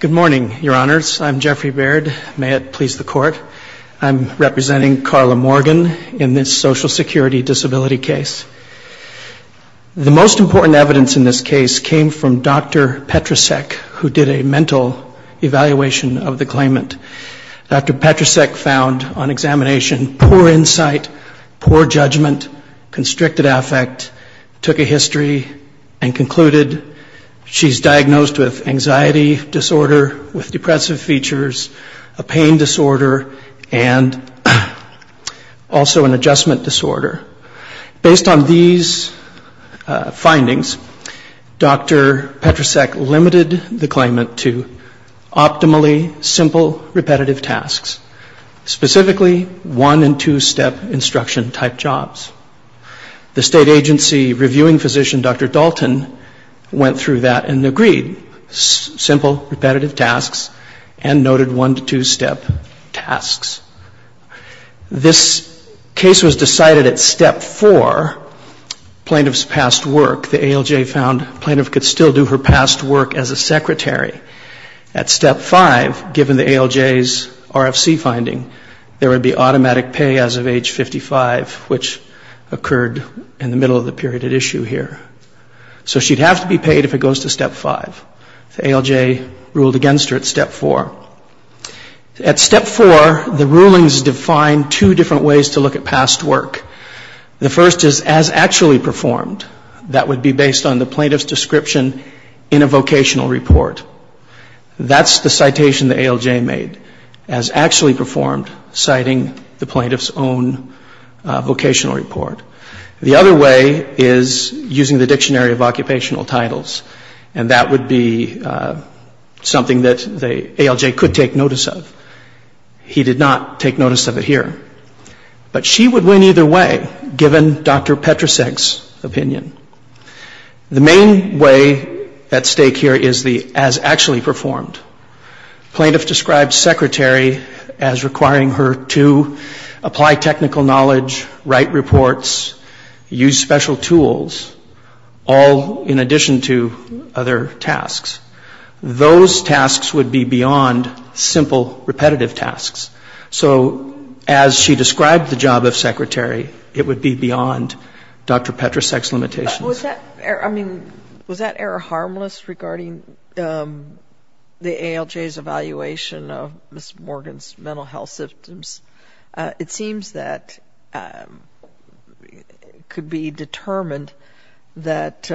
Good morning, Your Honors. I'm Jeffrey Baird. May it please the Court, I'm representing Carla Morgan in this social security disability case. The most important evidence in this case came from Dr. Petrasek, who did a mental evaluation of the claimant. Dr. Petrasek found on examination poor insight, poor judgment, constricted affect, took a history, and concluded she's done diagnosed with anxiety disorder, with depressive features, a pain disorder, and also an adjustment disorder. Based on these findings, Dr. Petrasek limited the claimant to optimally simple, repetitive tasks, specifically one- and two-step instruction-type jobs. The state agency reviewing physician Dr. Dalton went through that and agreed, simple, repetitive tasks, and noted one- to two-step tasks. This case was decided at step four, plaintiff's past work. The ALJ found the plaintiff could still do her past work as a secretary. At step five, given the ALJ's RFC finding, there would be automatic pay as of age 55, which occurred in the middle of the period at issue here. So she'd have to be paid if it goes to step five. The ALJ ruled against her at step four. At step four, the rulings define two different ways to look at past work. The first is as actually performed. That would be based on the plaintiff's description in a vocational report. That's the citation the ALJ made, as actually performed, citing the plaintiff's own vocational report. The other way is using the dictionary of occupational titles, and that would be something that the ALJ could take notice of. He did not take notice of it here. But she would win either way, given Dr. Petrasek's opinion. The main way at stake here is the as actually performed. Plaintiff described secretary as requiring her to apply technical knowledge, write reports, use special tools, all in addition to other tasks. Those tasks would be beyond simple repetitive tasks. So as she described the job of secretary, it would be beyond Dr. Petrasek's limitations. Was that error harmless regarding the ALJ's evaluation of Ms. Morgan's mental health symptoms? It seems that it could be determined that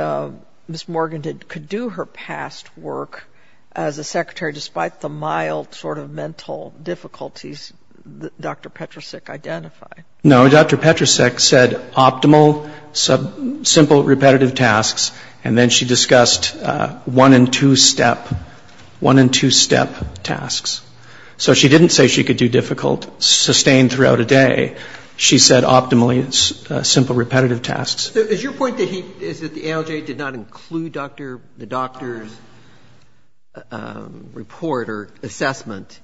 Ms. Morgan could do her past work as a secretary, despite the mild sort of mental difficulties that Dr. Petrasek identified. No, Dr. Petrasek said optimal simple repetitive tasks, and then she discussed one and two step, one and two step tasks. So she didn't say she could do difficult sustained throughout a day. She said optimally simple repetitive tasks. Is your point that the ALJ did not include the doctor's report or assessment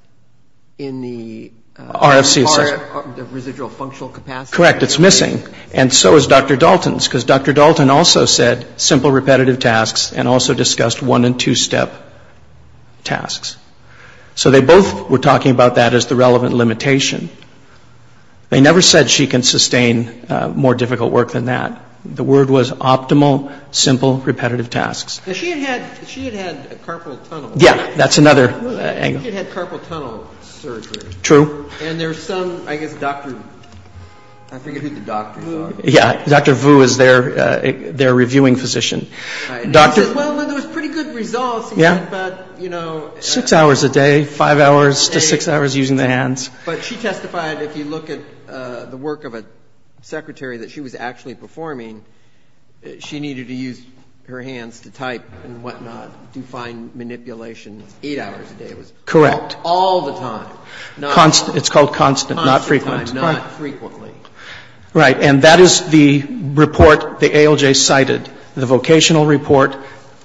in the RFC assessment? Correct, it's missing. And so is Dr. Dalton's, because Dr. Dalton also said simple repetitive tasks and also discussed one and two step tasks. So they both were talking about that as the relevant limitation. They never said she can sustain more difficult work than that. The word was optimal simple repetitive tasks. She had had carpal tunnel. Yeah, that's another angle. I think it had carpal tunnel surgery. True. And there's some, I guess, Dr. I forget who the doctors are. Yeah, Dr. Vu is their reviewing physician. And he said, well, there was pretty good results, he said, but, you know... Six hours a day, five hours to six hours using the hands. But she testified, if you look at the work of a secretary that she was actually performing, she needed to Correct. All the time. It's called constant, not frequent. Constant time, not frequently. Right. And that is the report the ALJ cited, the vocational report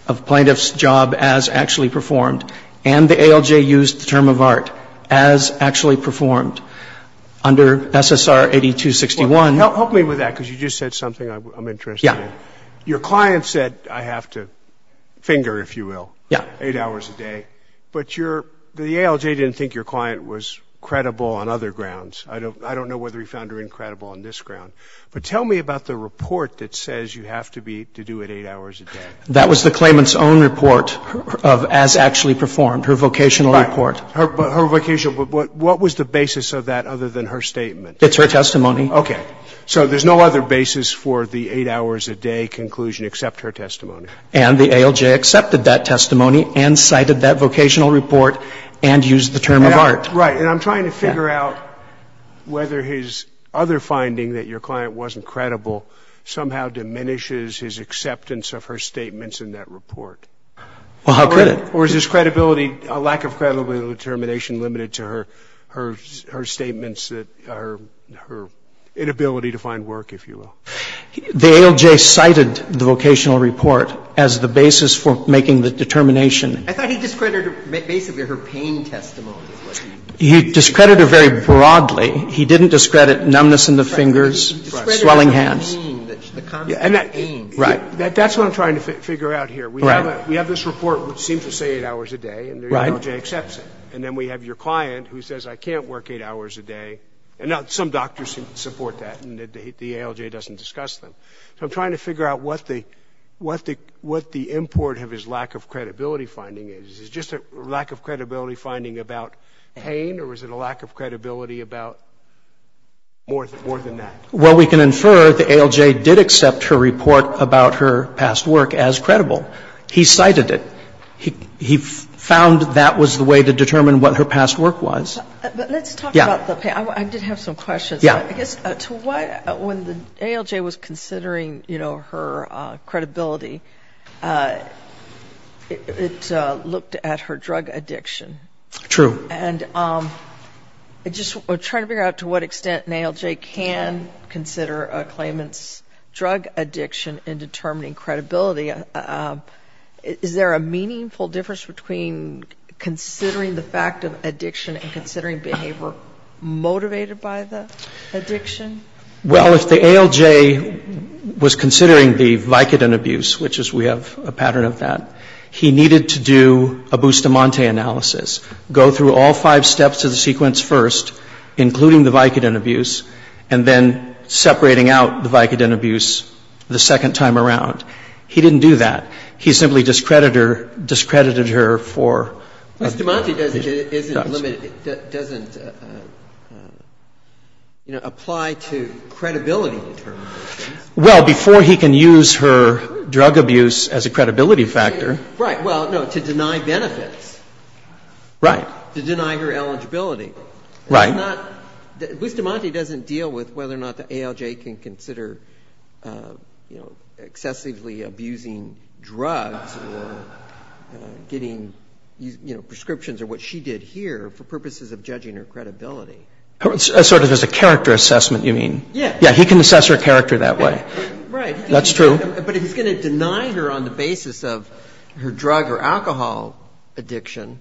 of plaintiff's job as actually performed. And the ALJ used the term of art as actually performed under SSR 8261. Help me with that, because you just said something I'm interested in. Your client said, I have to finger, if you will, eight hours a day. But the ALJ didn't think your client was credible on other grounds. I don't know whether he found her incredible on this ground. But tell me about the report that says you have to do it eight hours a day. That was the claimant's own report of as actually performed, her vocational report. Her All other basis for the eight hours a day conclusion except her testimony. And the ALJ accepted that testimony and cited that vocational report and used the term of art. Right. And I'm trying to figure out whether his other finding that your client wasn't credible somehow diminishes his acceptance of her statements in that report. Well, how could it? Or is his credibility, lack of credibility and determination limited to her statements, her inability to find work, if you will? The ALJ cited the vocational report as the basis for making the determination. I thought he discredited basically her pain testimony. He discredited her very broadly. He didn't discredit numbness in the fingers, swelling hands. He discredited the pain, the constant pain. Right. That's what I'm trying to figure out here. We have this report which seems to say eight hours a day and the ALJ accepts it. And then we have your client who says I can't work eight hours a day. And some doctors support that and the ALJ doesn't discuss them. So I'm trying to figure out what the import of his lack of credibility finding is. Is it just a lack of credibility finding about pain or is it a lack of credibility about more than that? Well, we can infer the ALJ did accept her report about her past work as credible. He cited it. He found that was the way to determine what her past work was. But let's talk about the pain. I did have some questions. Yeah. I guess to what, when the ALJ was considering, you know, her credibility, it looked at her drug addiction. True. And just trying to figure out to what extent an ALJ can consider a claimant's drug addiction in determining credibility. Is there a meaningful difference between considering the fact of addiction and considering behavior motivated by the addiction? Well, if the ALJ was considering the Vicodin abuse, which is we have a pattern of that, he needed to do a Bustamante analysis, go through all five steps of the sequence first, including the Vicodin abuse, and then separating out the Vicodin abuse the second time around. He didn't do that. He simply discredited her for the drug. Bustamante doesn't apply to credibility in terms of abuse. Well, before he can use her drug abuse as a credibility factor. Right. Well, no, to deny benefits. Right. To deny her eligibility. Right. Bustamante doesn't deal with whether or not the ALJ can consider, you know, excessively abusing drugs or getting, you know, prescriptions or what she did here for purposes of judging her credibility. Sort of as a character assessment, you mean? Yeah. Yeah, he can assess her character that way. Right. That's true. But if he's going to deny her on the basis of her drug or alcohol addiction,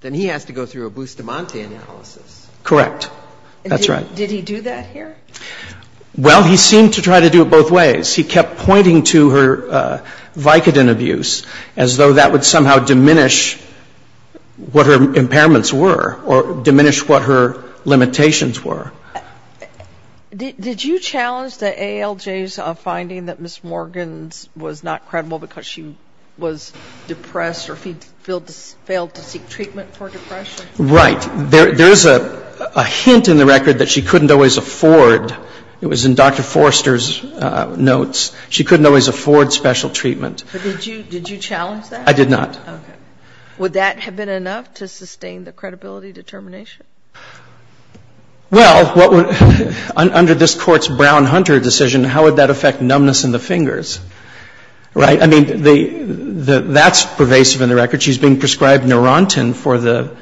then he has to go through a Bustamante analysis. Correct. That's right. Did he do that here? Well, he seemed to try to do it both ways. He kept pointing to her Vicodin abuse as though that would somehow diminish what her impairments were or diminish what her limitations were. Did you challenge the ALJ's finding that Ms. Morgan was not credible because she was depressed or failed to seek treatment for depression? Right. There's a hint in the record that she couldn't always afford. It was in Dr. Forster's notes. She couldn't always afford special treatment. But did you challenge that? I did not. Okay. Would that have been enough to sustain the credibility determination? Well, under this court's Brown-Hunter decision, how would that affect numbness in the fingers? I mean, that's pervasive in the record. She's being prescribed Neurontin for the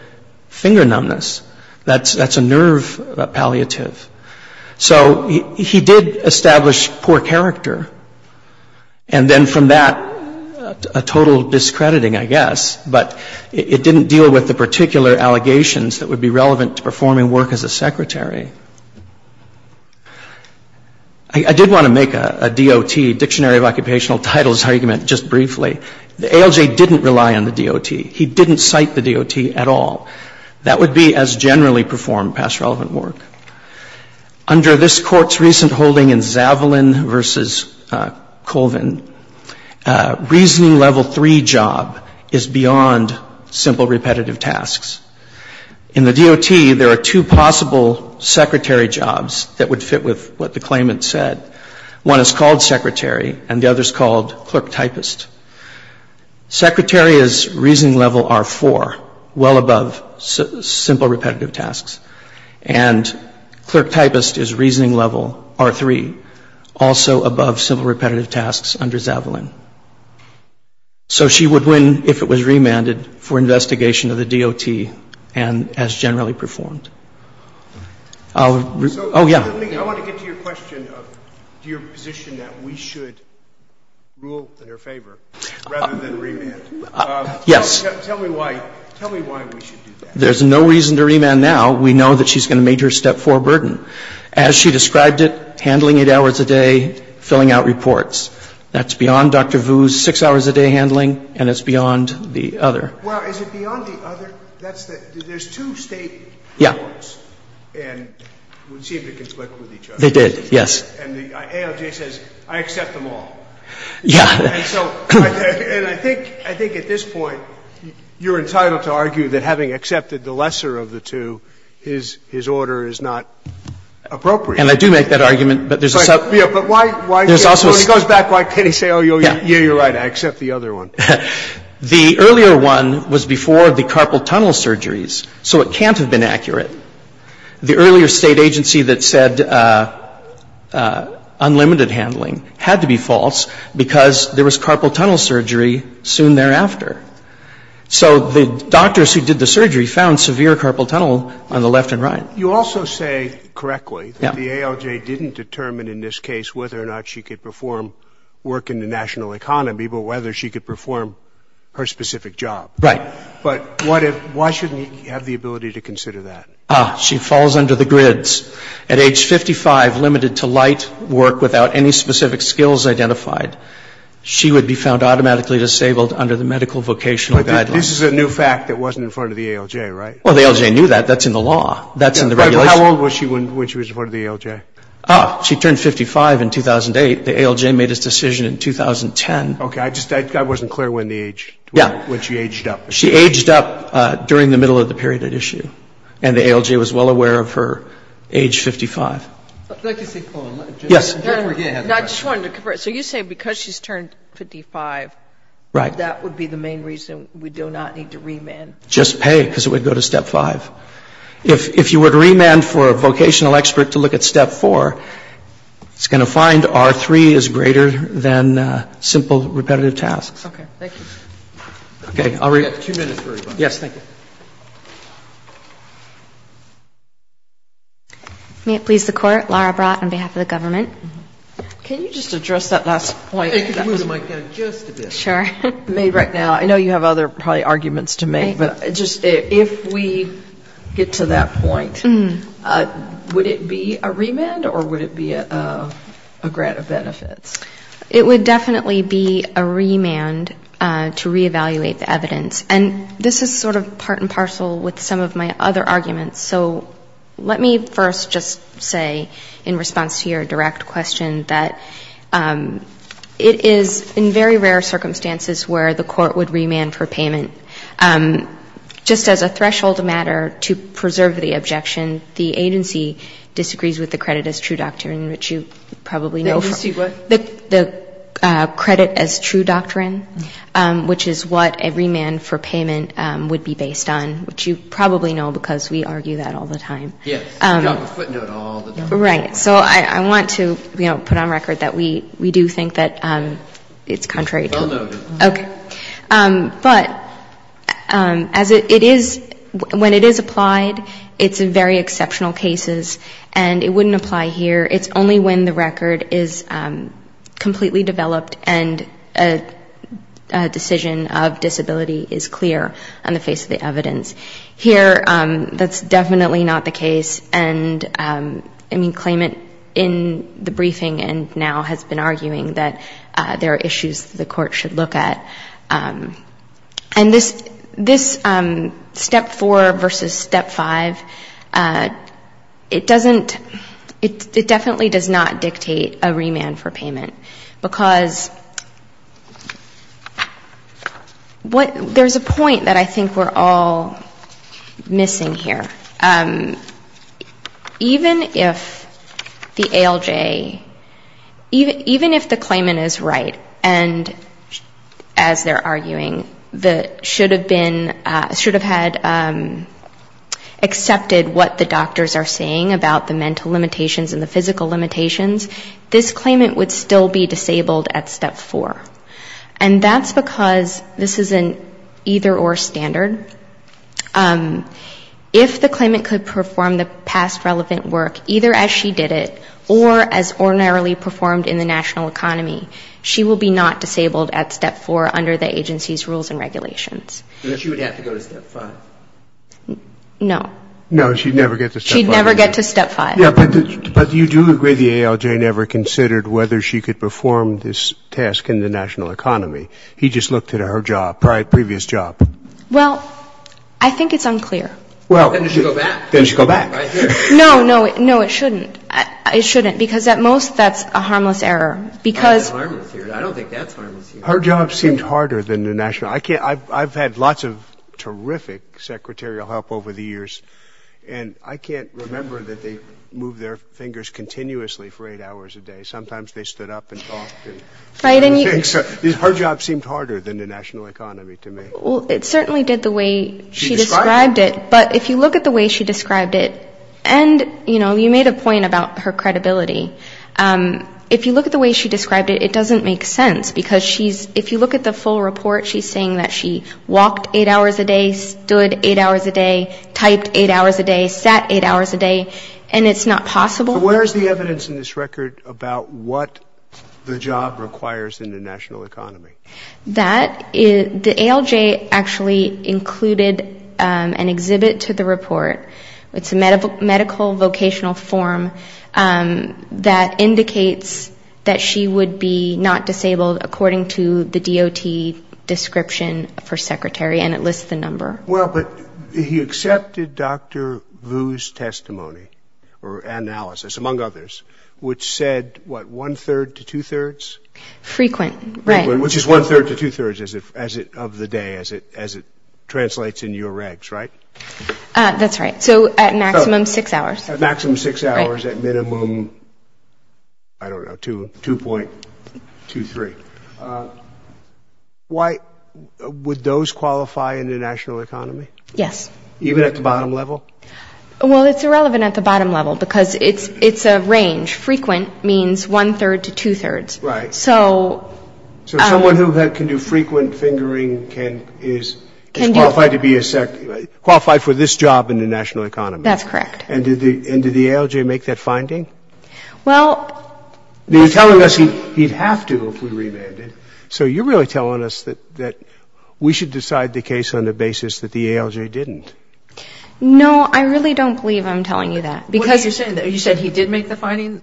finger numbness. That's a nerve palliative. So he did establish poor character. And then from that, a total discrediting, I guess. But it didn't deal with the particular allegations that would be relevant to performing work as a secretary. I did want to make a DOT, Dictionary of Occupational Titles, argument just briefly. The ALJ didn't rely on the DOT. He didn't cite the DOT at all. That would be as generally performed past relevant work. Under this court's recent holding in Zavalin v. Colvin, reasoning level three job is beyond simple repetitive tasks. In the DOT, there are two possible secretary jobs that would fit with what the claimant said. One is called secretary, and the other is called clerk typist. Secretary is reasoning level R4, well above simple repetitive tasks. And clerk typist is reasoning level R3, also above simple repetitive tasks. So she would win if it was remanded for investigation of the DOT as generally performed. Oh, yeah. I want to get to your question of your position that we should rule in her favor rather than remand. Yes. Tell me why we should do that. There's no reason to remand now. We know that she's going to meet her step four burden. As she described it, handling eight hours a day, filling out reports. That's beyond Dr. Vu's six hours a day handling, and it's beyond the other. Well, is it beyond the other? There's two State courts. Yeah. And we seem to conflict with each other. They did, yes. And the ALJ says, I accept them all. Yeah. And so I think at this point you're entitled to argue that having accepted the lesser of the two, his order is not appropriate. And I do make that argument, but there's a sub. Yeah, but why? There's also a sub. When he goes back, why can't he say, oh, yeah, you're right, I accept the other one? The earlier one was before the carpal tunnel surgeries, so it can't have been accurate. The earlier State agency that said unlimited handling had to be false because there was carpal tunnel surgery soon thereafter. So the doctors who did the surgery found severe carpal tunnel on the left and right. You also say correctly that the ALJ didn't determine in this case whether or not she could perform work in the national economy, but whether she could perform her specific job. Right. But why shouldn't he have the ability to consider that? She falls under the grids. At age 55, limited to light work without any specific skills identified, she would be found automatically disabled under the medical vocational guidelines. But this is a new fact that wasn't in front of the ALJ, right? Well, the ALJ knew that. That's in the law. That's in the regulation. How old was she when she was in front of the ALJ? She turned 55 in 2008. The ALJ made its decision in 2010. Okay. I just wasn't clear when the age, when she aged up. She aged up during the middle of the period at issue, and the ALJ was well aware of her age 55. I'd like to say a few words. Yes. So you're saying because she's turned 55, that would be the main reason we do not need to remand? Just pay, because it would go to Step 5. If you were to remand for a vocational expert to look at Step 4, it's going to find R3 is greater than simple repetitive tasks. Okay. Thank you. Okay. We have two minutes for rebuttal. Yes. Thank you. May it please the Court, Laura Brott on behalf of the government. Can you just address that last point? I can move the mic down just a bit. Sure. Made right now. I know you have other probably arguments to make, but just if we get to that point, would it be a remand or would it be a grant of benefits? It would definitely be a remand to reevaluate the evidence. And this is sort of part and parcel with some of my other arguments. So let me first just say, in response to your direct question, that it is in very rare circumstances where the court would remand for payment. Just as a threshold matter to preserve the objection, the agency disagrees with the credit as true doctrine, which you probably know from. The agency what? The credit as true doctrine, which is what a remand for payment would be based on, which you probably know because we argue that all the time. Yes. We talk a footnote all the time. Right. So I want to, you know, put on record that we do think that it's contrary to. Well noted. Okay. But as it is, when it is applied, it's in very exceptional cases, and it wouldn't apply here. It's only when the record is completely developed and a decision of disability is clear on the face of the evidence. Here, that's definitely not the case. And I mean, claimant in the briefing and now has been arguing that there are issues the court should look at. And this Step 4 versus Step 5, it doesn't, it definitely does not dictate a remand for payment. Because what, there's a point that I think we're all missing here. Even if the ALJ, even if the claimant is right, and as they're arguing, that should have been, should have had accepted what the doctors are saying about the mental limitations and the physical limitations, this claimant would still be disabled at Step 4. And that's because this is an either or standard. If the claimant could perform the past relevant work, either as she did it, or as ordinarily performed in the national economy, she will be not disabled at Step 4 under the agency's rules and regulations. Then she would have to go to Step 5. No. No, she'd never get to Step 5. She'd never get to Step 5. Yeah, but you do agree the ALJ never considered whether she could perform this task in the national economy. He just looked at her job, previous job. Well, I think it's unclear. Then she should go back. Then she should go back. No, no, no, it shouldn't. It shouldn't, because at most that's a harmless error. I don't think that's harmless. Her job seemed harder than the national. I've had lots of terrific secretarial help over the years, and I can't remember that they moved their fingers continuously for eight hours a day. Sometimes they stood up and talked. Her job seemed harder than the national economy to me. Well, it certainly did the way she described it, but if you look at the way she described it, and, you know, you made a point about her credibility. If you look at the way she described it, it doesn't make sense, because if you look at the full report, she's saying that she walked eight hours a day, stood eight hours a day, typed eight hours a day, sat eight hours a day, and it's not possible. Where is the evidence in this record about what the job requires in the national economy? The ALJ actually included an exhibit to the report. It's a medical vocational form that indicates that she would be not disabled according to the DOT description of her secretary, and it lists the number. Well, but he accepted Dr. Vu's testimony or analysis, among others, which said, what, one-third to two-thirds? Frequent, right. Frequent, which is one-third to two-thirds of the day, as it translates in your regs, right? That's right. So at maximum six hours. At maximum six hours, at minimum, I don't know, 2.23. Would those qualify in the national economy? Yes. Even at the bottom level? Well, it's irrelevant at the bottom level, because it's a range. Frequent means one-third to two-thirds. Right. So. So someone who can do frequent fingering can, is qualified to be a secretary, qualified for this job in the national economy. That's correct. And did the ALJ make that finding? Well. You're telling us he'd have to if we remanded. So you're really telling us that we should decide the case on the basis that the ALJ didn't. No, I really don't believe I'm telling you that, because. You said he did make the finding?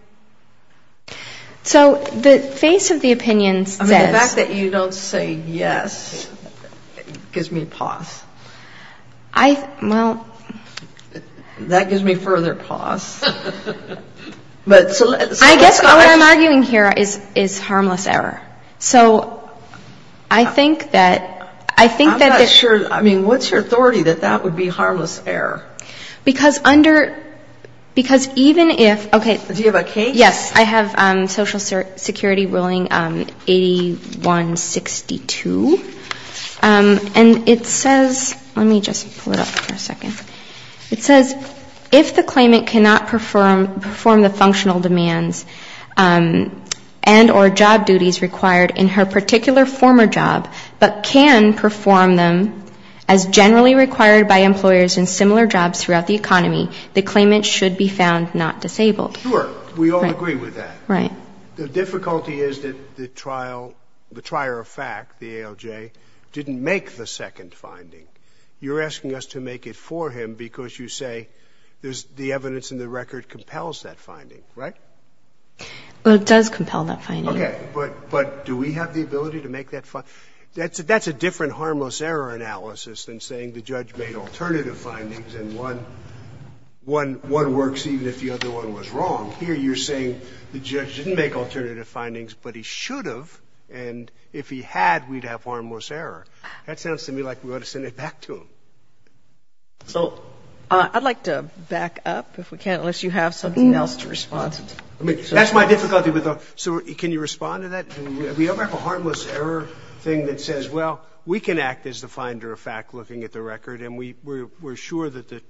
So the face of the opinion says. I mean, the fact that you don't say yes gives me pause. I, well. That gives me further pause. I guess what I'm arguing here is harmless error. So I think that, I think that. I'm not sure, I mean, what's your authority that that would be harmless error? Because under, because even if, okay. Do you have a case? Yes, I have social security ruling 8162. And it says, let me just pull it up for a second. It says, if the claimant cannot perform the functional demands and or job duties required in her particular former job, but can perform them as generally required by employers in similar jobs throughout the economy, the claimant should be found not disabled. Sure. We all agree with that. Right. The difficulty is that the trial, the trier of fact, the ALJ, didn't make the second finding. You're asking us to make it for him because you say the evidence in the record compels that finding, right? Well, it does compel that finding. Okay. But do we have the ability to make that, that's a different harmless error analysis than saying the judge made alternative findings and one works even if the other one was wrong. Here you're saying the judge didn't make alternative findings, but he should have. And if he had, we'd have harmless error. That sounds to me like we ought to send it back to him. So. I'd like to back up if we can, unless you have something else to respond to. That's my difficulty. So can you respond to that? Do we ever have a harmless error thing that says, well, we can act as the finder of fact looking at the record and we're sure that the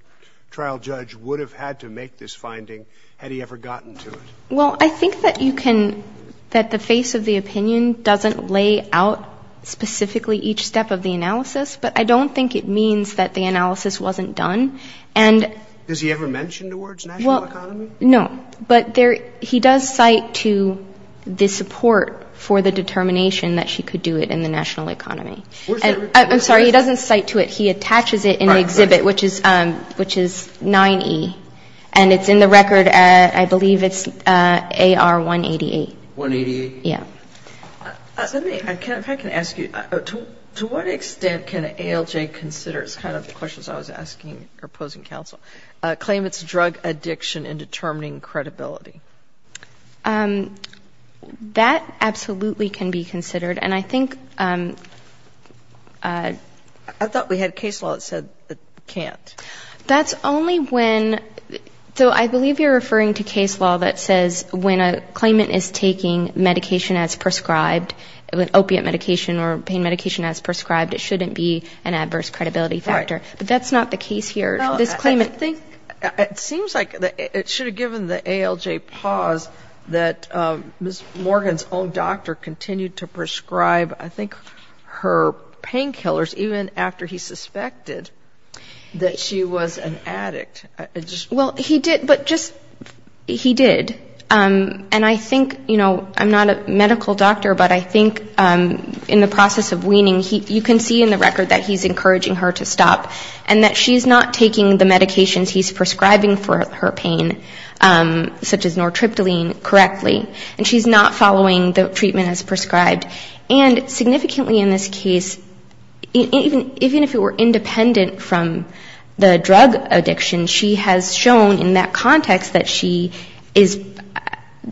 trial judge would have had to make this finding had he ever gotten to it. Well, I think that you can, that the face of the opinion doesn't lay out specifically each step of the analysis, but I don't think it means that the analysis wasn't done. And. Does he ever mention the words national economy? No. But he does cite to the support for the determination that she could do it in the national economy. I'm sorry, he doesn't cite to it. He attaches it in the exhibit, which is 9E. And it's in the record, I believe it's AR 188. 188? Yeah. Let me, if I can ask you, to what extent can ALJ consider, this is kind of the questions I was asking or posing counsel, claim it's drug addiction in determining credibility? That absolutely can be considered. And I think. I thought we had case law that said it can't. That's only when, so I believe you're referring to case law that says when a claimant is taking medication as prescribed, with opiate medication or pain medication as prescribed, it shouldn't be an adverse credibility factor. Right. But that's not the case here. This claimant. Well, I think it seems like it should have given the ALJ pause that Ms. Morgan's own doctor continued to prescribe, I think, her painkillers, even after he suspected that she was an addict. Well, he did, but just, he did. And I think, you know, I'm not a medical doctor, but I think in the process of weaning, you can see in the record that he's encouraging her to stop and that she's not taking the medications he's prescribing for her pain, such as nortriptyline, correctly, and she's not following the treatment as prescribed. And significantly in this case, even if it were independent from the drug addiction, she has shown in that context that she is,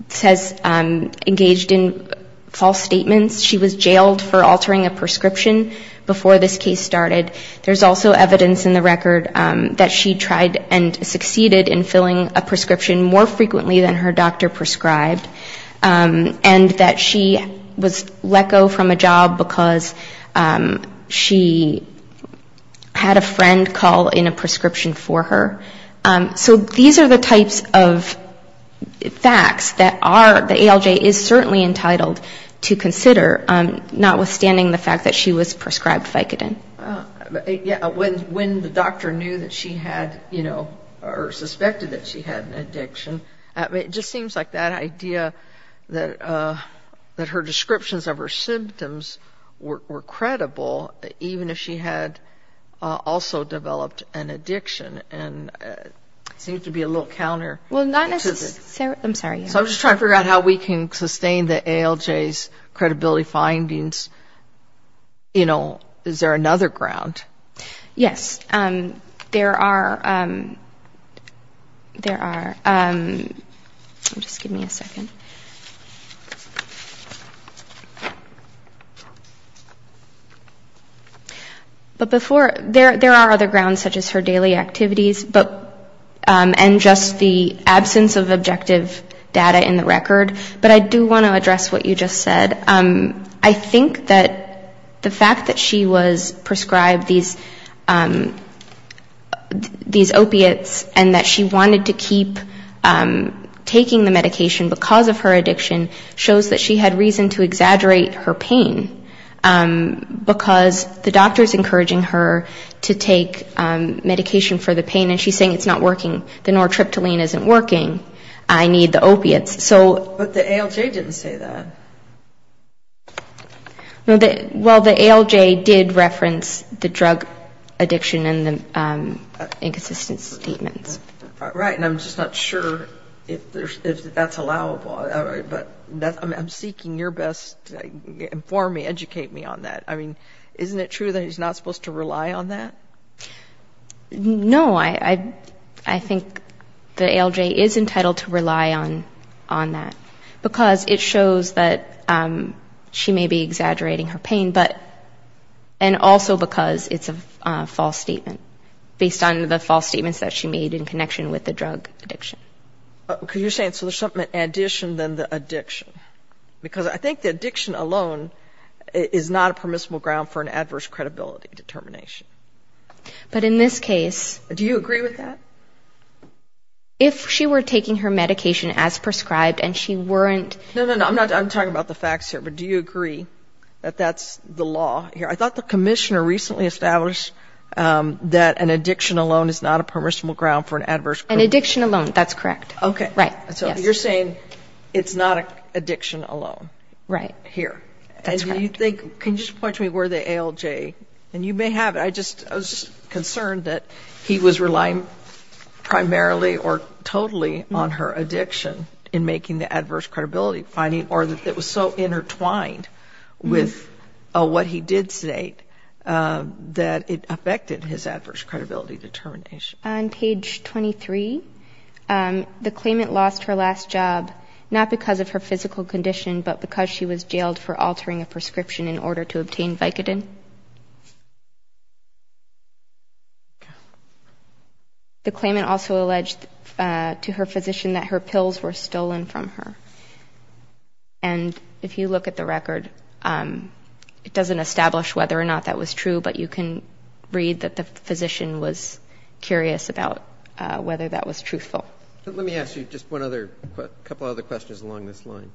says, engaged in false statements. She was jailed for altering a prescription before this case started. There's also evidence in the record that she tried and succeeded in filling a prescription more frequently than her doctor prescribed, and that she was let go from a job because she had a friend call in a prescription for her. So these are the types of facts that are, that ALJ is certainly entitled to consider, notwithstanding the fact that she was prescribed Vicodin. When the doctor knew that she had, you know, or suspected that she had an addiction, it just seems like that idea that her descriptions of her symptoms were credible, even if she had also developed an addiction. And it seems to be a little counterintuitive. So I'm just trying to figure out how we can sustain the ALJ's credibility findings. You know, is there another ground? Yes, there are. But before, there are other grounds, such as her daily activities, and just the absence of objective data in the record. But I do want to address what you just said. I think that the fact that she was prescribed these opiates and that she wanted to keep taking the medication because of her addiction shows that she had reason to exaggerate her pain, because the doctor's encouraging her to take medication for the pain, and she's saying it's not working, the nortriptyline isn't working, I need the opiates. But the ALJ didn't say that. Well, the ALJ did reference the drug addiction in the inconsistent statements. Right, and I'm just not sure if that's allowable. But I'm seeking your best to inform me, educate me on that. I mean, isn't it true that he's not supposed to rely on that? No, I think the ALJ is entitled to rely on that, because it shows that she may be exaggerating her pain, and also because it's a false statement, based on the false statements that she made in connection with the drug addiction. Because you're saying so there's something in addition than the addiction, because I think the addiction alone is not a permissible ground for an adverse credibility determination. But in this case do you agree with that? If she were taking her medication as prescribed and she weren't. No, no, no, I'm talking about the facts here, but do you agree that that's the law here? I thought the commissioner recently established that an addiction alone is not a permissible ground for an adverse credibility. An addiction alone, that's correct. Okay, so you're saying it's not addiction alone here. Can you just point to me where the ALJ, and you may have it, I was just concerned that he was relying primarily or totally on her addiction in making the adverse credibility finding, or that it was so intertwined with what he did state that it affected his adverse credibility determination. On page 23, the claimant lost her last job, not because of her physical condition, but because she was jailed for altering a prescription in order to obtain Vicodin. The claimant also alleged to her physician that her pills were stolen from her. And if you look at the record, it doesn't establish whether or not that was true, but you can read that the physician was curious about whether that was truthful. Let me ask you just one other, a couple other questions along this line.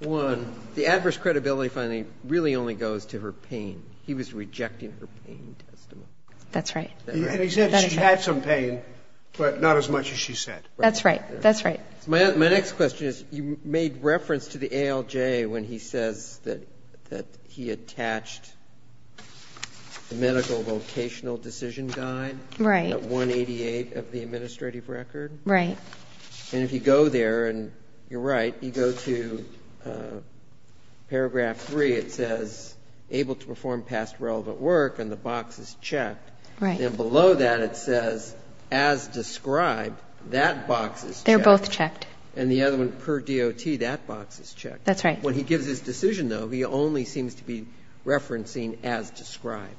One, the adverse credibility finding really only goes to her pain. He was rejecting her pain testimony. That's right. And he said she had some pain, but not as much as she said. That's right. That's right. My next question is, you made reference to the ALJ when he says that he attached the medical vocational decision guide at 188 of the administrative record. Right. And if you go there, and you're right, you go to paragraph 3, it says able to perform past relevant work, and the box is checked. Right. And below that, it says as described, that box is checked. They're both checked. And the other one, per DOT, that box is checked. That's right. When he gives his decision, though, he only seems to be referencing as described.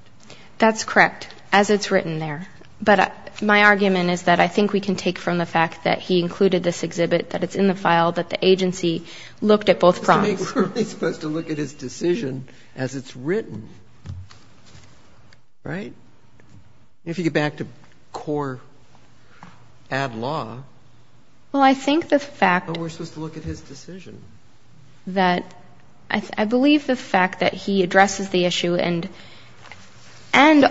That's correct, as it's written there. But my argument is that I think we can take from the fact that he included this exhibit, that it's in the file, that the agency looked at both prongs. We're supposed to look at his decision as it's written, right? If you get back to core ad law. Well, I think the fact that we're supposed to look at his decision. I believe the fact that he addresses the issue, and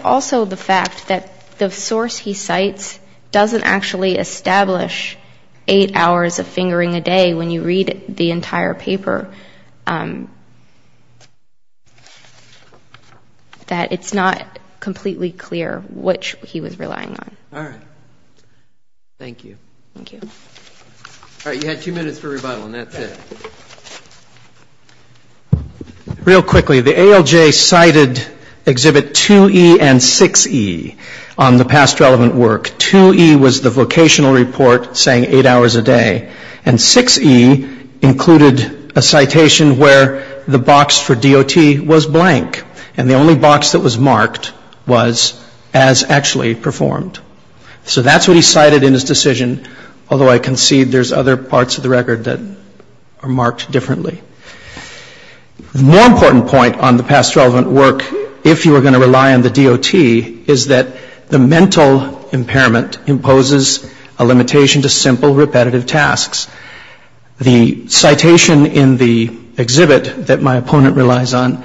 also the fact that the source he cites doesn't actually establish eight hours of fingering a day when you read the entire paper. That it's not completely clear which he was relying on. All right. Thank you. All right, you had two minutes for rebuttal, and that's it. Real quickly, the ALJ cited exhibit 2E and 6E on the past relevant work. That's a citation where the box for DOT was blank, and the only box that was marked was as actually performed. So that's what he cited in his decision, although I concede there's other parts of the record that are marked differently. More important point on the past relevant work, if you were going to rely on the DOT, is that the mental impairment imposes a limitation to simple repetitive tasks. The citation in the exhibit that my opponent relies on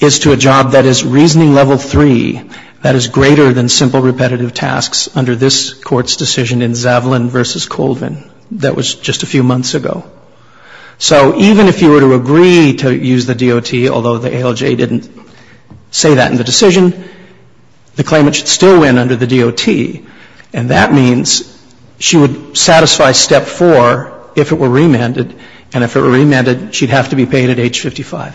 is to a job that is reasoning level three. That is greater than simple repetitive tasks under this court's decision in Zavalin v. Colvin. That was just a few months ago. So even if you were to agree to use the DOT, although the ALJ didn't say that in the decision, the claimant should still win under the DOT. And that means she would satisfy step four if it were remanded, and if it were remanded, she'd have to be paid at age 55. Thank you.